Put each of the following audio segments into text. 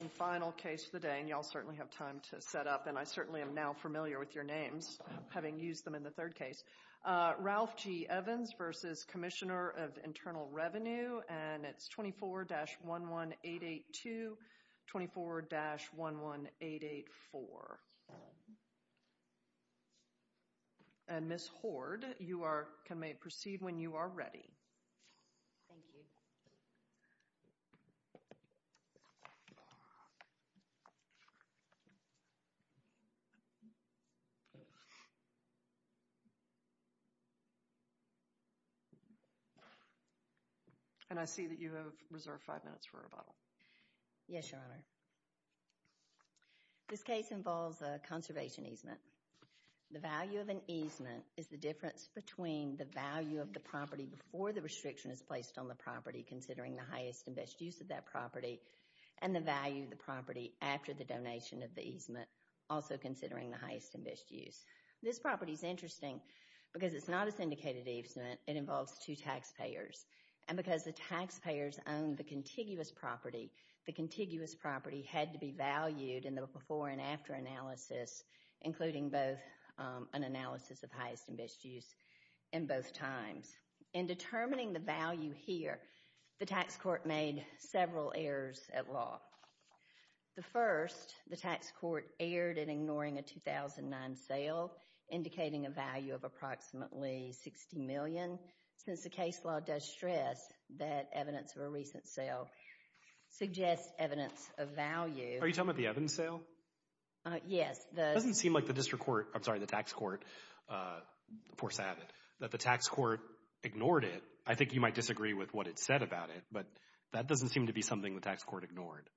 And y'all certainly have time to set up, and I certainly am now familiar with your names, having used them in the third case. Ralph G. Evans v. Commissioner of Internal Revenue, and it's 24-11882, 24-11884. And Ms. Hoard, you may proceed when you are ready. Thank you. And I see that you have reserved five minutes for rebuttal. Yes, Your Honor. This case involves a conservation easement. The value of an easement is the difference between the value of the property before the restriction is placed on the property, considering the highest and best use of that property, and the value of the property after the donation of the easement, also considering the highest and best use. This property is interesting because it's not a syndicated easement. It involves two taxpayers. And because the taxpayers own the contiguous property, the contiguous property had to be valued in the before and after analysis, including both an analysis of highest and best use in both times. In determining the value here, the tax court made several errors at law. The first, the tax court erred in ignoring a 2009 sale, indicating a value of approximately $60 million. Since the case law does stress that evidence of a recent sale suggests evidence of value— Are you talking about the Evans sale? Yes, the— It doesn't seem like the district court—I'm sorry, the tax court foresaw it, that the tax court ignored it. I think you might disagree with what it said about it, but that doesn't seem to be something the tax court ignored.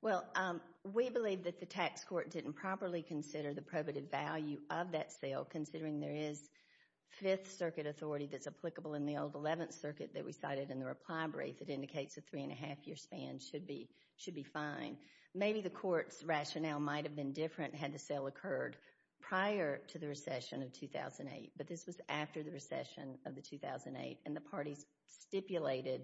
Well, we believe that the tax court didn't properly consider the probative value of that sale, considering there is Fifth Circuit authority that's applicable in the old Eleventh Circuit that we cited in the reply brief. It indicates a three-and-a-half-year span should be fine. Maybe the court's rationale might have been different had the sale occurred prior to the recession of 2008, but this was after the recession of the 2008, and the parties stipulated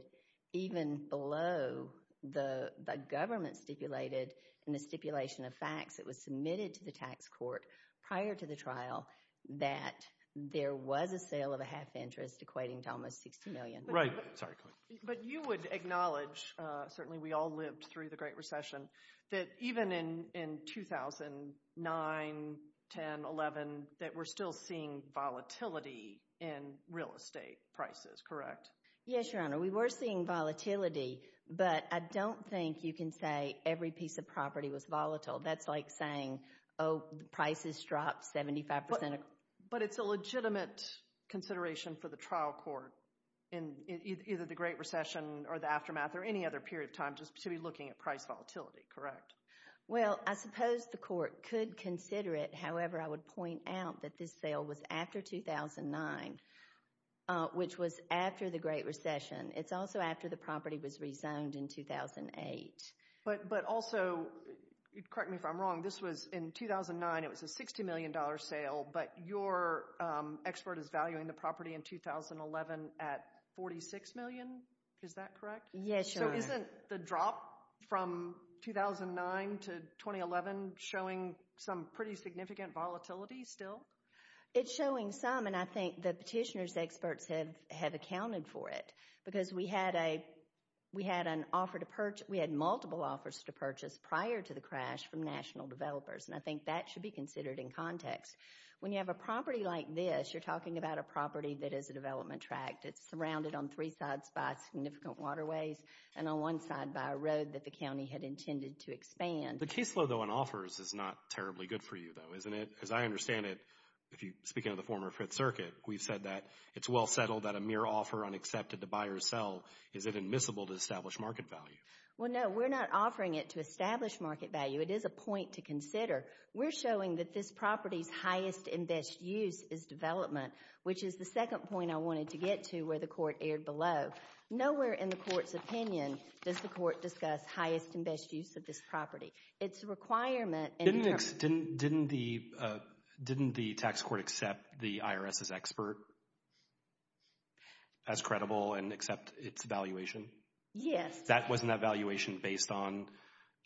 even below the government stipulated in the stipulation of facts that was submitted to the tax court prior to the trial that there was a sale of a half-interest equating to almost $60 million. Right. Sorry, go ahead. But you would acknowledge—certainly we all lived through the Great Recession— that even in 2009, 10, 11, that we're still seeing volatility in real estate prices, correct? Yes, Your Honor. We were seeing volatility, but I don't think you can say every piece of property was volatile. That's like saying, oh, prices dropped 75 percent. But it's a legitimate consideration for the trial court in either the Great Recession or the aftermath or any other period of time just to be looking at price volatility, correct? Well, I suppose the court could consider it. However, I would point out that this sale was after 2009, which was after the Great Recession. It's also after the property was rezoned in 2008. But also—correct me if I'm wrong—this was in 2009. It was a $60 million sale, but your expert is valuing the property in 2011 at $46 million. Is that correct? Yes, Your Honor. So isn't the drop from 2009 to 2011 showing some pretty significant volatility still? It's showing some, and I think the petitioner's experts have accounted for it because we had multiple offers to purchase prior to the crash from national developers, and I think that should be considered in context. When you have a property like this, you're talking about a property that is a development tract. It's surrounded on three sides by significant waterways and on one side by a road that the county had intended to expand. The caseload, though, on offers is not terribly good for you, though, isn't it? As I understand it, speaking of the former Fifth Circuit, we've said that it's well settled that a mere offer unaccepted to buy or sell is inadmissible to establish market value. Well, no, we're not offering it to establish market value. It is a point to consider. We're showing that this property's highest and best use is development, which is the second point I wanted to get to where the court erred below. Nowhere in the court's opinion does the court discuss highest and best use of this property. It's a requirement. Didn't the tax court accept the IRS's expert as credible and accept its valuation? Yes. That wasn't a valuation based on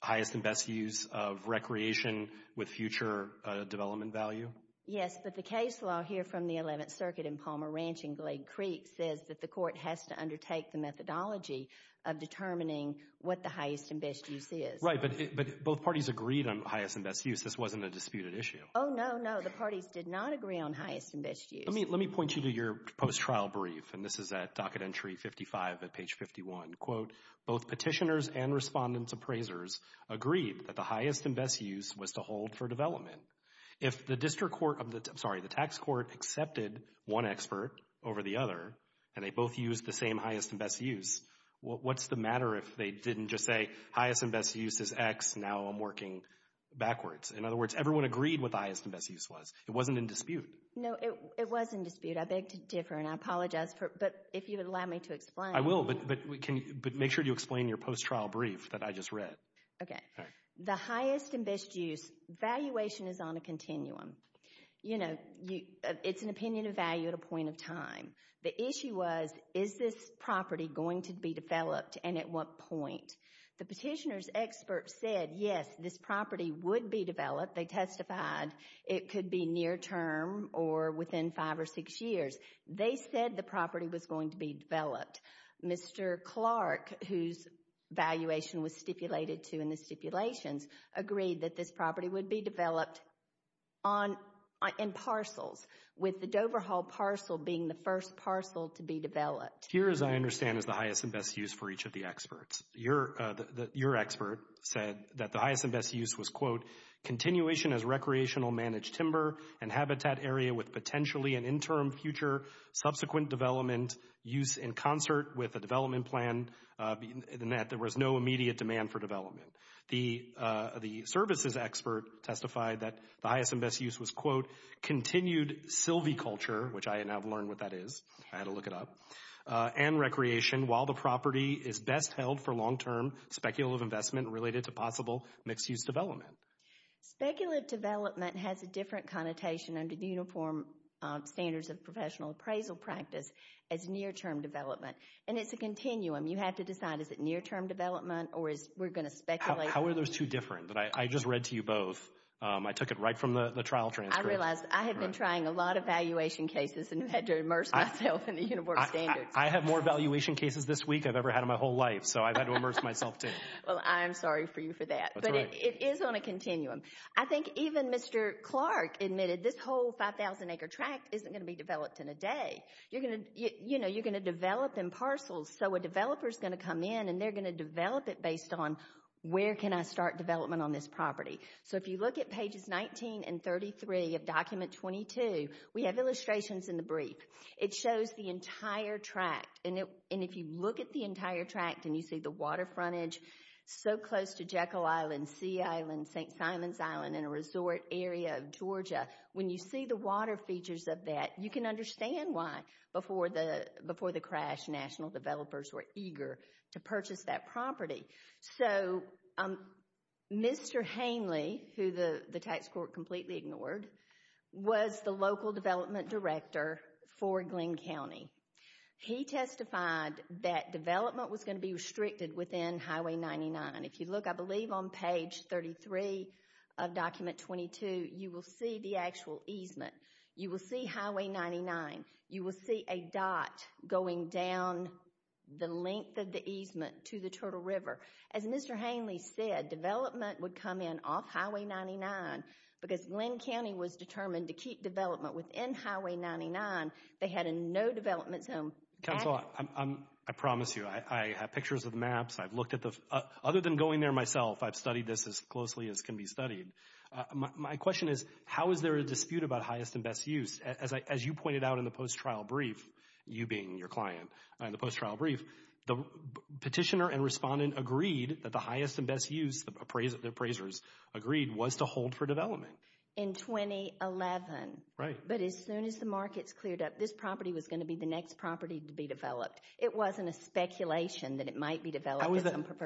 highest and best use of recreation with future development value? Yes, but the case law here from the Eleventh Circuit in Palmer Ranch in Glade Creek says that the court has to undertake the methodology of determining what the highest and best use is. Right, but both parties agreed on highest and best use. This wasn't a disputed issue. Oh, no, no. The parties did not agree on highest and best use. Let me point you to your post-trial brief, and this is at docket entry 55 at page 51. Quote, both petitioners and respondent appraisers agreed that the highest and best use was to hold for development. If the tax court accepted one expert over the other and they both used the same highest and best use, what's the matter if they didn't just say highest and best use is X, now I'm working backwards? In other words, everyone agreed what the highest and best use was. It wasn't in dispute. No, it was in dispute. I beg to differ, and I apologize, but if you would allow me to explain. I will, but make sure you explain your post-trial brief that I just read. Okay. The highest and best use valuation is on a continuum. You know, it's an opinion of value at a point of time. The issue was, is this property going to be developed and at what point? The petitioner's expert said, yes, this property would be developed. They testified it could be near term or within five or six years. They said the property was going to be developed. Mr. Clark, whose valuation was stipulated to in the stipulations, agreed that this property would be developed in parcels, with the Dover Hall parcel being the first parcel to be developed. Here, as I understand, is the highest and best use for each of the experts. Your expert said that the highest and best use was, quote, continuation as recreational managed timber and habitat area with potentially an interim future subsequent development use in concert with a development plan in that there was no immediate demand for development. The services expert testified that the highest and best use was, quote, continued Sylvie culture, which I now have learned what that is. I had to look it up. And recreation, while the property is best held for long-term speculative investment related to possible mixed-use development. Speculative development has a different connotation under the Uniform Standards of Professional Appraisal practice as near-term development. And it's a continuum. You have to decide, is it near-term development or is we're going to speculate? How are those two different? I just read to you both. I took it right from the trial transcript. I realized I had been trying a lot of valuation cases and had to immerse myself in the Uniform Standards. I have more valuation cases this week I've ever had in my whole life, so I've had to immerse myself, too. Well, I'm sorry for you for that. But it is on a continuum. I think even Mr. Clark admitted this whole 5,000-acre tract isn't going to be developed in a day. You're going to develop in parcels, so a developer is going to come in and they're going to develop it based on where can I start development on this property. So if you look at pages 19 and 33 of Document 22, we have illustrations in the brief. It shows the entire tract, and if you look at the entire tract and you see the water frontage so close to Jekyll Island, Sea Island, St. Simons Island, and a resort area of Georgia, when you see the water features of that, you can understand why before the crash national developers were eager to purchase that property. So Mr. Hanley, who the tax court completely ignored, was the local development director for Glynn County. He testified that development was going to be restricted within Highway 99. If you look, I believe, on page 33 of Document 22, you will see the actual easement. You will see Highway 99. You will see a dot going down the length of the easement to the Turtle River. As Mr. Hanley said, development would come in off Highway 99 because Glynn County was determined to keep development within Highway 99. They had a no development zone. Counselor, I promise you, I have pictures of maps. Other than going there myself, I've studied this as closely as can be studied. My question is, how is there a dispute about highest and best use? As you pointed out in the post-trial brief, you being your client, the petitioner and respondent agreed that the highest and best use, the appraisers agreed, was to hold for development. In 2011. Right. But as soon as the markets cleared up, this property was going to be the next property to be developed. It wasn't a speculation that it might be developed.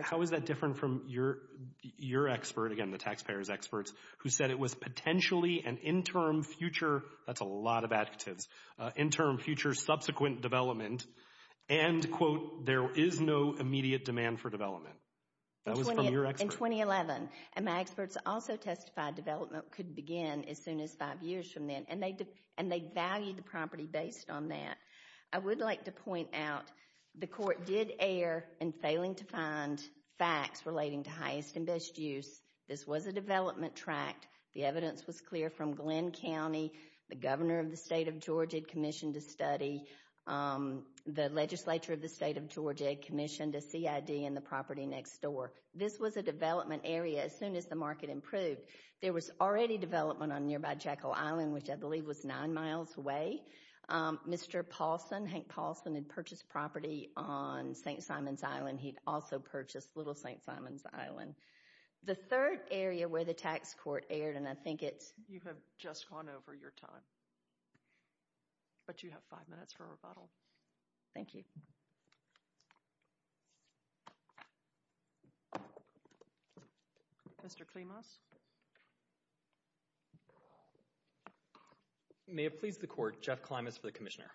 How is that different from your expert, again, the taxpayers' experts, who said it was potentially an interim future, that's a lot of adjectives, interim future, subsequent development, and, quote, there is no immediate demand for development. That was from your expert. In 2011. And my experts also testified development could begin as soon as five years from then. And they valued the property based on that. I would like to point out the court did err in failing to find facts relating to highest and best use. This was a development tract. The evidence was clear from Glenn County. The governor of the state of Georgia had commissioned a study. The legislature of the state of Georgia had commissioned a CID in the property next door. This was a development area as soon as the market improved. There was already development on nearby Jekyll Island, which I believe was nine miles away. Mr. Paulson, Hank Paulson, had purchased property on St. Simons Island. He'd also purchased Little St. Simons Island. The third area where the tax court erred, and I think it's- You have just gone over your time. But you have five minutes for rebuttal. Thank you. Mr. Klimas. May it please the court, Jeff Klimas for the commissioner.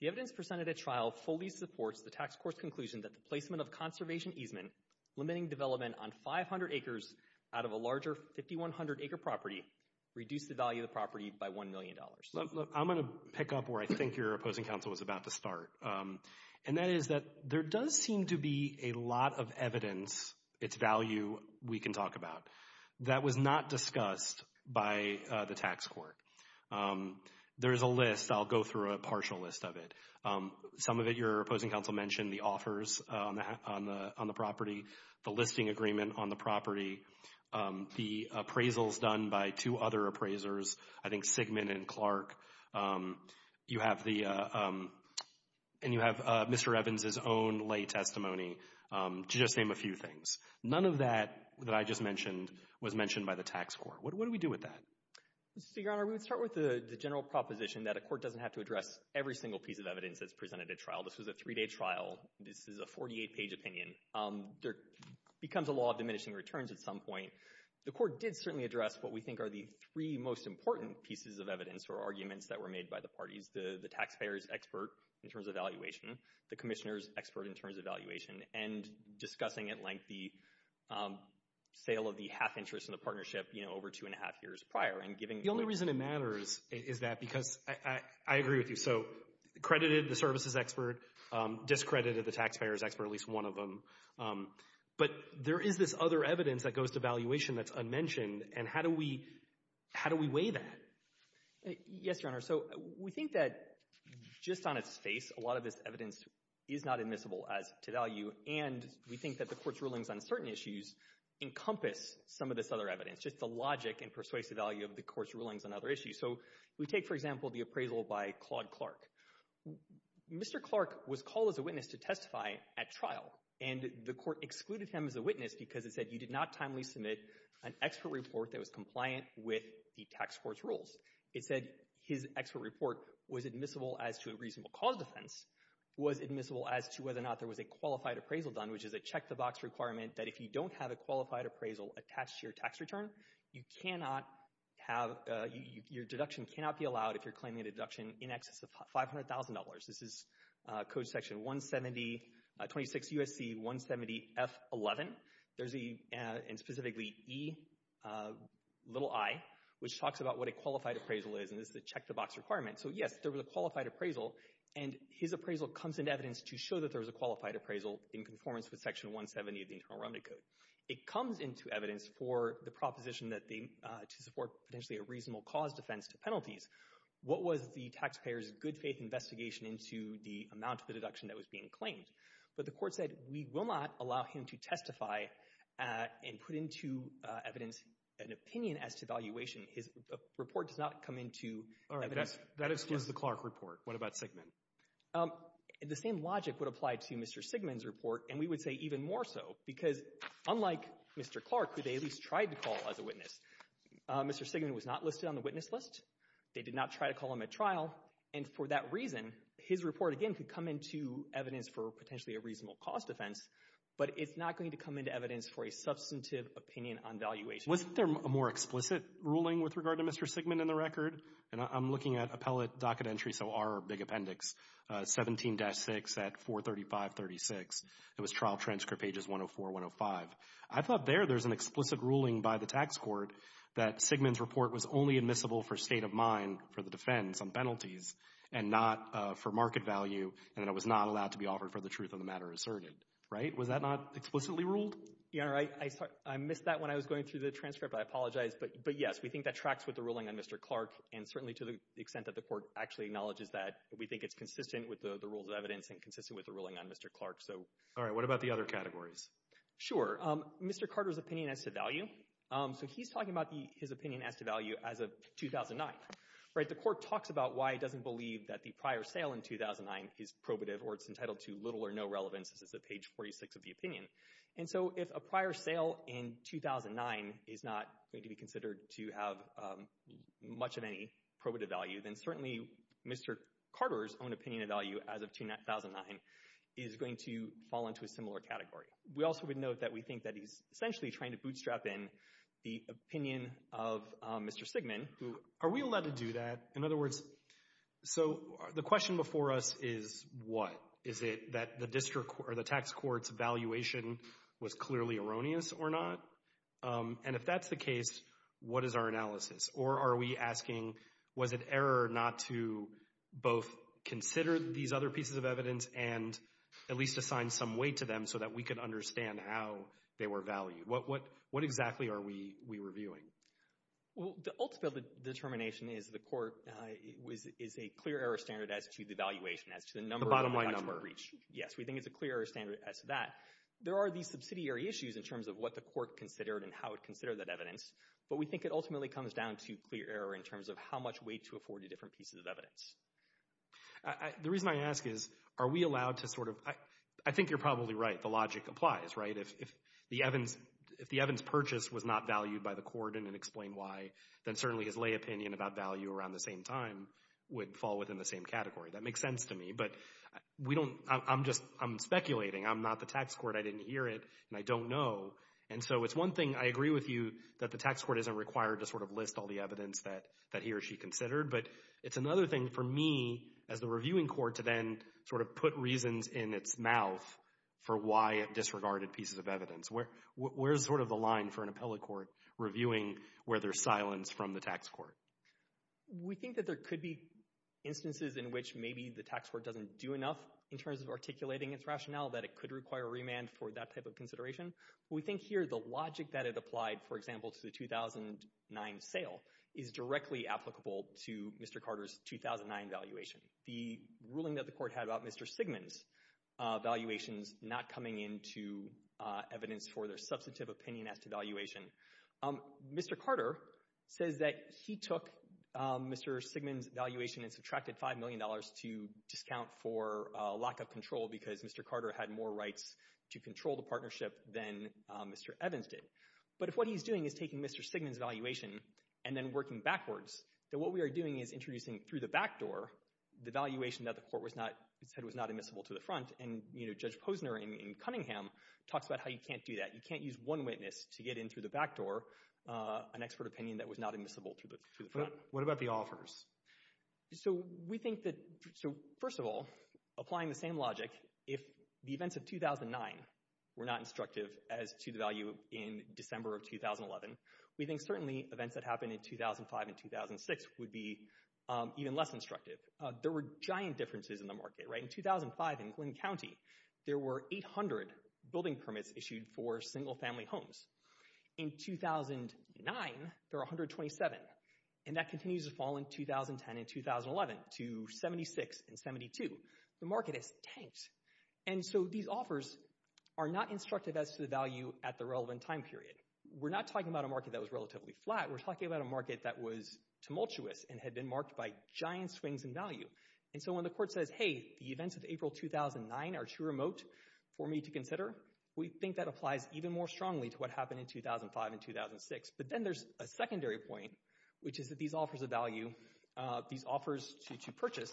The evidence presented at trial fully supports the tax court's conclusion that the placement of conservation easement, limiting development on 500 acres out of a larger 5,100-acre property, reduced the value of the property by $1 million. I'm going to pick up where I think your opposing counsel was about to start, and that is that there does seem to be a lot of evidence, its value we can talk about, that was not discussed by the tax court. There is a list. I'll go through a partial list of it. Some of it your opposing counsel mentioned, the offers on the property, the listing agreement on the property, the appraisals done by two other appraisers, I think Sigmund and Clark. You have the- and you have Mr. Evans' own lay testimony, to just name a few things. None of that that I just mentioned was mentioned by the tax court. What do we do with that? Mr. Segrano, we would start with the general proposition that a court doesn't have to address every single piece of evidence that's presented at trial. This was a three-day trial. This is a 48-page opinion. There becomes a law of diminishing returns at some point. The court did certainly address what we think are the three most important pieces of evidence or arguments that were made by the parties, the taxpayer's expert in terms of valuation, the commissioner's expert in terms of valuation, and discussing at length the sale of the half interest in the partnership over two and a half years prior and giving- The only reason it matters is that because I agree with you. So credited the services expert, discredited the taxpayer's expert, at least one of them. But there is this other evidence that goes to valuation that's unmentioned, and how do we weigh that? Yes, Your Honor. So we think that just on its face, a lot of this evidence is not admissible as to value, and we think that the court's rulings on certain issues encompass some of this other evidence, just the logic and persuasive value of the court's rulings on other issues. So we take, for example, the appraisal by Claude Clark. Mr. Clark was called as a witness to testify at trial, and the court excluded him as a witness because it said you did not timely submit an expert report that was compliant with the tax court's rules. It said his expert report was admissible as to a reasonable cause defense, was admissible as to whether or not there was a qualified appraisal done, which is a check-the-box requirement that if you don't have a qualified appraisal attached to your tax return, you cannot have, your deduction cannot be allowed if you're claiming a deduction in excess of $500,000. This is Code Section 170, 26 U.S.C. 170 F11. There's a, and specifically E, little i, which talks about what a qualified appraisal is, and this is a check-the-box requirement. So, yes, there was a qualified appraisal, and his appraisal comes into evidence to show that there was a qualified appraisal in conformance with Section 170 of the Internal Remedy Code. It comes into evidence for the proposition that they, to support potentially a reasonable cause defense to penalties. What was the taxpayer's good faith investigation into the amount of the deduction that was being claimed? But the court said we will not allow him to testify and put into evidence an opinion as to valuation. His report does not come into evidence. All right, that excludes the Clark report. What about Sigmund? The same logic would apply to Mr. Sigmund's report, and we would say even more so because unlike Mr. Clark, who they at least tried to call as a witness, Mr. Sigmund was not listed on the witness list. They did not try to call him at trial, and for that reason, his report, again, could come into evidence for potentially a reasonable cause defense, but it's not going to come into evidence for a substantive opinion on valuation. Wasn't there a more explicit ruling with regard to Mr. Sigmund in the record? And I'm looking at appellate docket entries, so our big appendix, 17-6 at 435.36. It was trial transcript pages 104, 105. I thought there there's an explicit ruling by the tax court that Sigmund's report was only admissible for state of mind for the defense on penalties and not for market value and that it was not allowed to be offered for the truth of the matter asserted. Was that not explicitly ruled? I missed that when I was going through the transcript. I apologize. But, yes, we think that tracks with the ruling on Mr. Clark, and certainly to the extent that the court actually acknowledges that, we think it's consistent with the rules of evidence and consistent with the ruling on Mr. Clark. All right. What about the other categories? Sure. Mr. Carter's opinion as to value. So he's talking about his opinion as to value as of 2009. The court talks about why it doesn't believe that the prior sale in 2009 is probative or it's entitled to little or no relevance. This is at page 46 of the opinion. And so if a prior sale in 2009 is not going to be considered to have much of any probative value, then certainly Mr. Carter's own opinion of value as of 2009 is going to fall into a similar category. We also would note that we think that he's essentially trying to bootstrap in the opinion of Mr. Sigmund. Are we allowed to do that? In other words, so the question before us is what? Is it that the district or the tax court's evaluation was clearly erroneous or not? And if that's the case, what is our analysis? Or are we asking was it error not to both consider these other pieces of evidence and at least assign some weight to them so that we could understand how they were valued? What exactly are we reviewing? Well, the ultimate determination is the court is a clear error standard as to the evaluation, as to the number of the tax court breach. Yes, we think it's a clear error standard as to that. There are these subsidiary issues in terms of what the court considered and how it considered that evidence, but we think it ultimately comes down to clear error in terms of how much weight to afford to different pieces of evidence. The reason I ask is are we allowed to sort of—I think you're probably right. The logic applies, right? If the Evans purchase was not valued by the court and didn't explain why, then certainly his lay opinion about value around the same time would fall within the same category. That makes sense to me, but I'm speculating. I'm not the tax court. I didn't hear it, and I don't know. And so it's one thing. I agree with you that the tax court isn't required to sort of list all the evidence that he or she considered, but it's another thing for me as the reviewing court to then sort of put reasons in its mouth for why it disregarded pieces of evidence. Where's sort of the line for an appellate court reviewing where there's silence from the tax court? We think that there could be instances in which maybe the tax court doesn't do enough in terms of articulating its rationale that it could require remand for that type of consideration. We think here the logic that it applied, for example, to the 2009 sale, is directly applicable to Mr. Carter's 2009 valuation. The ruling that the court had about Mr. Sigmund's valuations not coming into evidence for their substantive opinion as to valuation. Mr. Carter says that he took Mr. Sigmund's valuation and subtracted $5 million to discount for lack of control because Mr. Carter had more rights to control the partnership than Mr. Evans did. But if what he's doing is taking Mr. Sigmund's valuation and then working backwards, then what we are doing is introducing through the back door the valuation that the court said was not admissible to the front, and Judge Posner in Cunningham talks about how you can't do that. You can't use one witness to get in through the back door an expert opinion that was not admissible to the front. What about the offers? So we think that, first of all, applying the same logic, if the events of 2009 were not instructive as to the value in December of 2011, we think certainly events that happened in 2005 and 2006 would be even less instructive. There were giant differences in the market, right? In 2005 in Glynn County, there were 800 building permits issued for single-family homes. In 2009, there were 127, and that continues to fall in 2010 and 2011 to 76 and 72. The market has tanked. And so these offers are not instructive as to the value at the relevant time period. We're not talking about a market that was relatively flat. We're talking about a market that was tumultuous and had been marked by giant swings in value. And so when the court says, hey, the events of April 2009 are too remote for me to consider, we think that applies even more strongly to what happened in 2005 and 2006. But then there's a secondary point, which is that these offers of value, these offers to purchase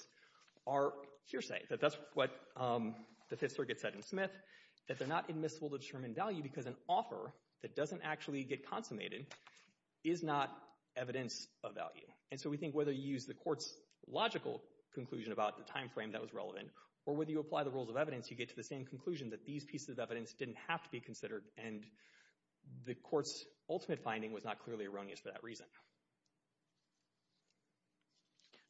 are hearsay, that that's what the Fifth Circuit said in Smith, that they're not admissible to determine value because an offer that doesn't actually get consummated is not evidence of value. And so we think whether you use the court's logical conclusion about the timeframe that was relevant or whether you apply the rules of evidence, you get to the same conclusion that these pieces of evidence didn't have to be considered, and the court's ultimate finding was not clearly erroneous for that reason.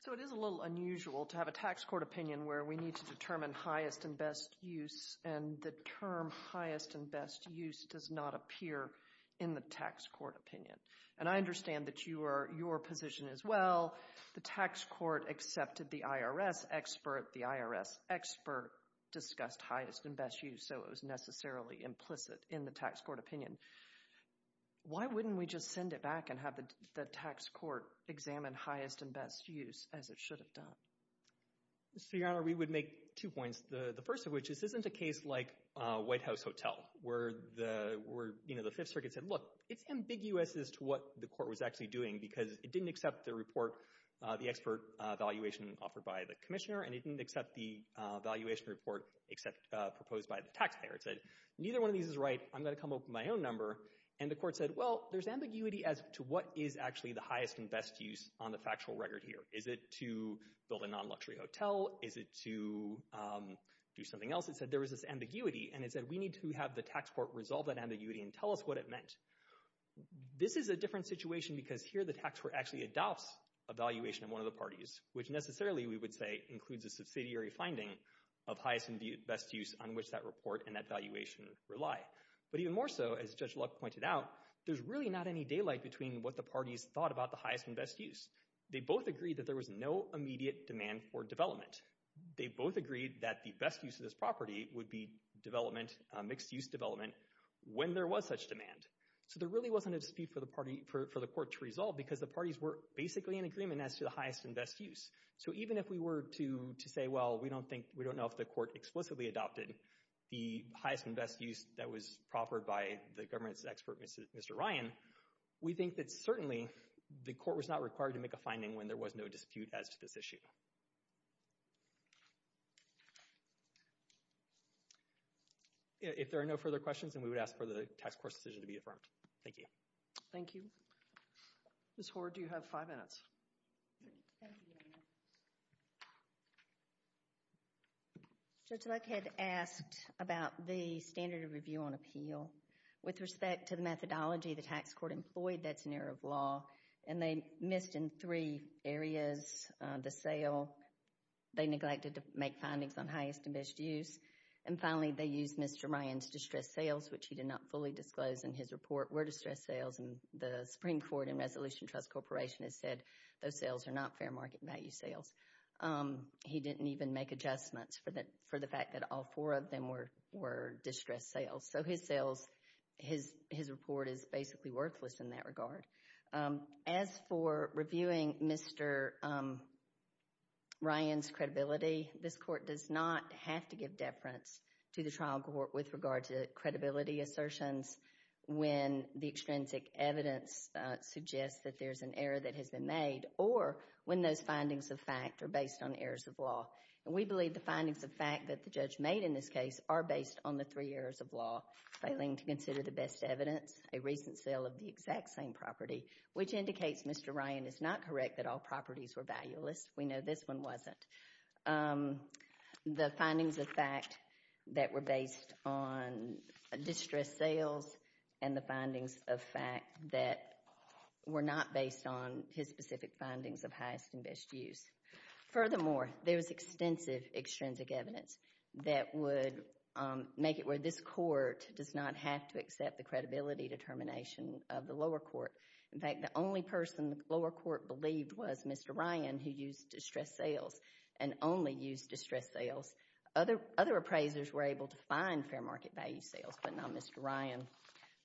So it is a little unusual to have a tax court opinion where we need to determine highest and best use, and the term highest and best use does not appear in the tax court opinion. And I understand that you are your position as well. The tax court accepted the IRS expert. The IRS expert discussed highest and best use, so it was necessarily implicit in the tax court opinion. Why wouldn't we just send it back and have the tax court examine highest and best use as it should have done? So, Your Honor, we would make two points, the first of which is this isn't a case like White House Hotel, where the Fifth Circuit said, look, it's ambiguous as to what the court was actually doing because it didn't accept the report, the expert evaluation offered by the commissioner, and it didn't accept the evaluation report proposed by the taxpayer. It said, neither one of these is right. I'm going to come up with my own number. And the court said, well, there's ambiguity as to what is actually the highest and best use on the factual record here. Is it to build a non-luxury hotel? Is it to do something else? It said there was this ambiguity, and it said we need to have the tax court resolve that ambiguity and tell us what it meant. This is a different situation because here the tax court actually adopts evaluation of one of the parties, which necessarily, we would say, includes a subsidiary finding of highest and best use on which that report and that evaluation rely. But even more so, as Judge Luck pointed out, there's really not any daylight between what the parties thought about the highest and best use. They both agreed that there was no immediate demand for development. They both agreed that the best use of this property would be development, mixed-use development, when there was such demand. So there really wasn't a dispute for the court to resolve because the parties were basically in agreement as to the highest and best use. So even if we were to say, well, we don't know if the court explicitly adopted the highest and best use that was proffered by the government's expert, Mr. Ryan, we think that certainly the court was not required to make a finding when there was no dispute as to this issue. If there are no further questions, then we would ask for the tax court's decision to be affirmed. Thank you. Thank you. Ms. Hoard, you have five minutes. Thank you. Judge Luck had asked about the standard of review on appeal. With respect to the methodology the tax court employed, that's an error of law. And they missed in three areas the sale. They neglected to make findings on highest and best use. And finally, they used Mr. Ryan's distressed sales, which he did not fully disclose in his report, were distressed sales. And the Supreme Court and Resolution Trust Corporation has said those sales are not fair market value sales. He didn't even make adjustments for the fact that all four of them were distressed sales. So his report is basically worthless in that regard. As for reviewing Mr. Ryan's credibility, this court does not have to give deference to the trial court with regard to credibility assertions when the extrinsic evidence suggests that there's an error that has been made or when those findings of fact are based on errors of law. And we believe the findings of fact that the judge made in this case are based on the three errors of law, failing to consider the best evidence, a recent sale of the exact same property, which indicates Mr. Ryan is not correct that all properties were valueless. We know this one wasn't. The findings of fact that were based on distressed sales and the findings of fact that were not based on his specific findings of highest and best use. Furthermore, there was extensive extrinsic evidence that would make it where this court does not have to accept the credibility determination of the lower court. In fact, the only person the lower court believed was Mr. Ryan who used distressed sales and only used distressed sales. Other appraisers were able to find fair market value sales, but not Mr. Ryan.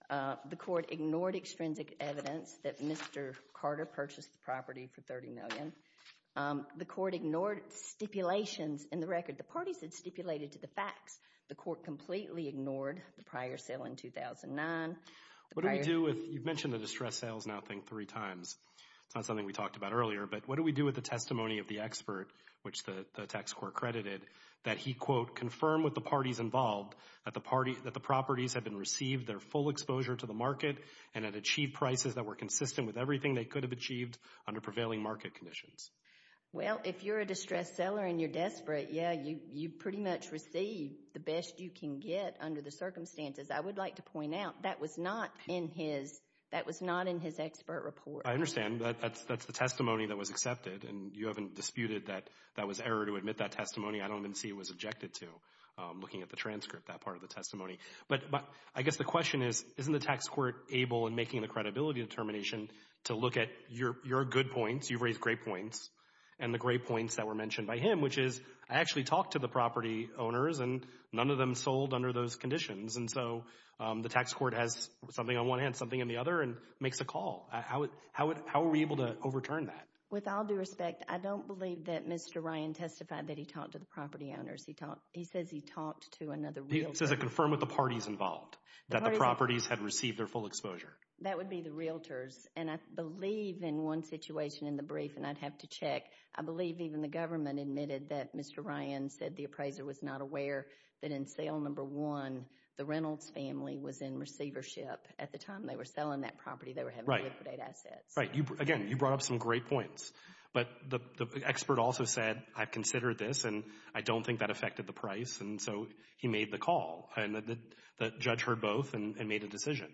The court ignored extrinsic evidence that Mr. Carter purchased the property for $30 million. The court ignored stipulations in the record. The parties had stipulated to the facts. The court completely ignored the prior sale in 2009. You've mentioned the distressed sales now I think three times. It's not something we talked about earlier, but what do we do with the testimony of the expert, which the tax court credited, that he, quote, confirmed with the parties involved that the properties had been received, their full exposure to the market, and had achieved prices that were consistent with everything they could have achieved under prevailing market conditions? Well, if you're a distressed seller and you're desperate, yeah, you pretty much receive the best you can get under the circumstances. I would like to point out that was not in his expert report. I understand. That's the testimony that was accepted, and you haven't disputed that that was error to admit that testimony. I don't even see it was objected to looking at the transcript, that part of the testimony. But I guess the question is, isn't the tax court able in making the credibility determination to look at your good points, you've raised great points, and the great points that were mentioned by him, which is I actually talked to the property owners, and none of them sold under those conditions. And so the tax court has something on one hand, something on the other, and makes a call. How are we able to overturn that? With all due respect, I don't believe that Mr. Ryan testified that he talked to the property owners. He says he talked to another realtor. He says it confirmed with the parties involved that the properties had received their full exposure. That would be the realtors. And I believe in one situation in the brief, and I'd have to check, I believe even the government admitted that Mr. Ryan said the appraiser was not aware that in sale number one, the Reynolds family was in receivership. At the time they were selling that property, they were having liquidated assets. Right. Again, you brought up some great points. But the expert also said, I've considered this, and I don't think that affected the price. And so he made the call, and the judge heard both and made a decision.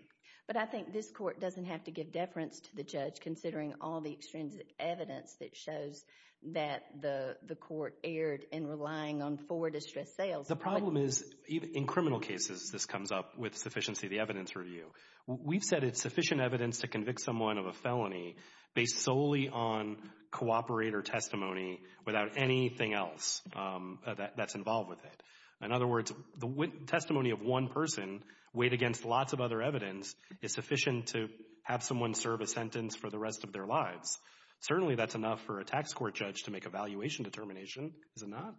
But I think this court doesn't have to give deference to the judge considering all the extrinsic evidence that shows that the court erred in relying on four distressed sales. The problem is, in criminal cases, this comes up with sufficiency of the evidence review. We've said it's sufficient evidence to convict someone of a felony based solely on cooperator testimony without anything else that's involved with it. In other words, the testimony of one person weighed against lots of other evidence is sufficient to have someone serve a sentence for the rest of their lives. Certainly that's enough for a tax court judge to make a valuation determination, is it not?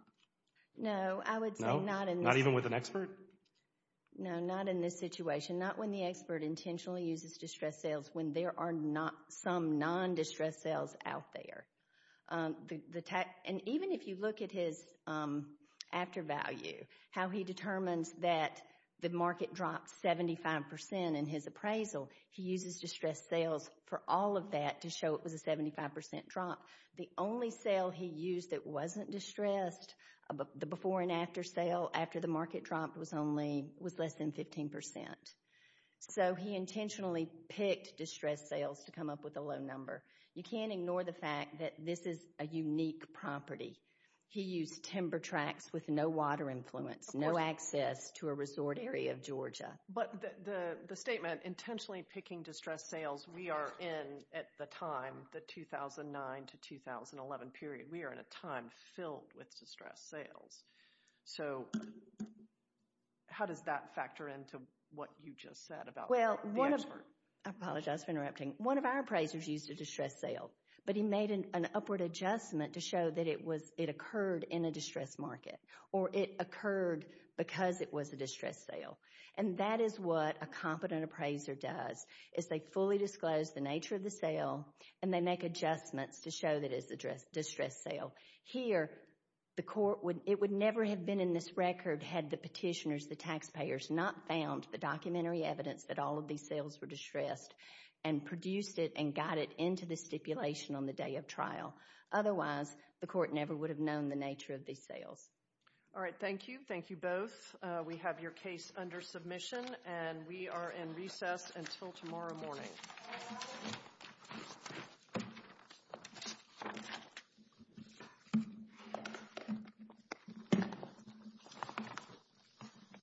No, I would say not in this— Not even with an expert? No, not in this situation. Not when the expert intentionally uses distressed sales when there are some non-distressed sales out there. And even if you look at his after value, how he determines that the market dropped 75% in his appraisal, he uses distressed sales for all of that to show it was a 75% drop. The only sale he used that wasn't distressed, the before and after sale after the market dropped, was less than 15%. So he intentionally picked distressed sales to come up with a low number. You can't ignore the fact that this is a unique property. He used timber tracks with no water influence, no access to a resort area of Georgia. But the statement, intentionally picking distressed sales, we are in, at the time, the 2009 to 2011 period, we are in a time filled with distressed sales. So how does that factor into what you just said about the expert? I apologize for interrupting. One of our appraisers used a distressed sale. But he made an upward adjustment to show that it occurred in a distressed market or it occurred because it was a distressed sale. And that is what a competent appraiser does, is they fully disclose the nature of the sale and they make adjustments to show that it is a distressed sale. Here, it would never have been in this record had the petitioners, the taxpayers, not found the documentary evidence that all of these sales were distressed and produced it and got it into the stipulation on the day of trial. Otherwise, the court never would have known the nature of these sales. All right, thank you. Thank you both. We have your case under submission, and we are in recess until tomorrow morning.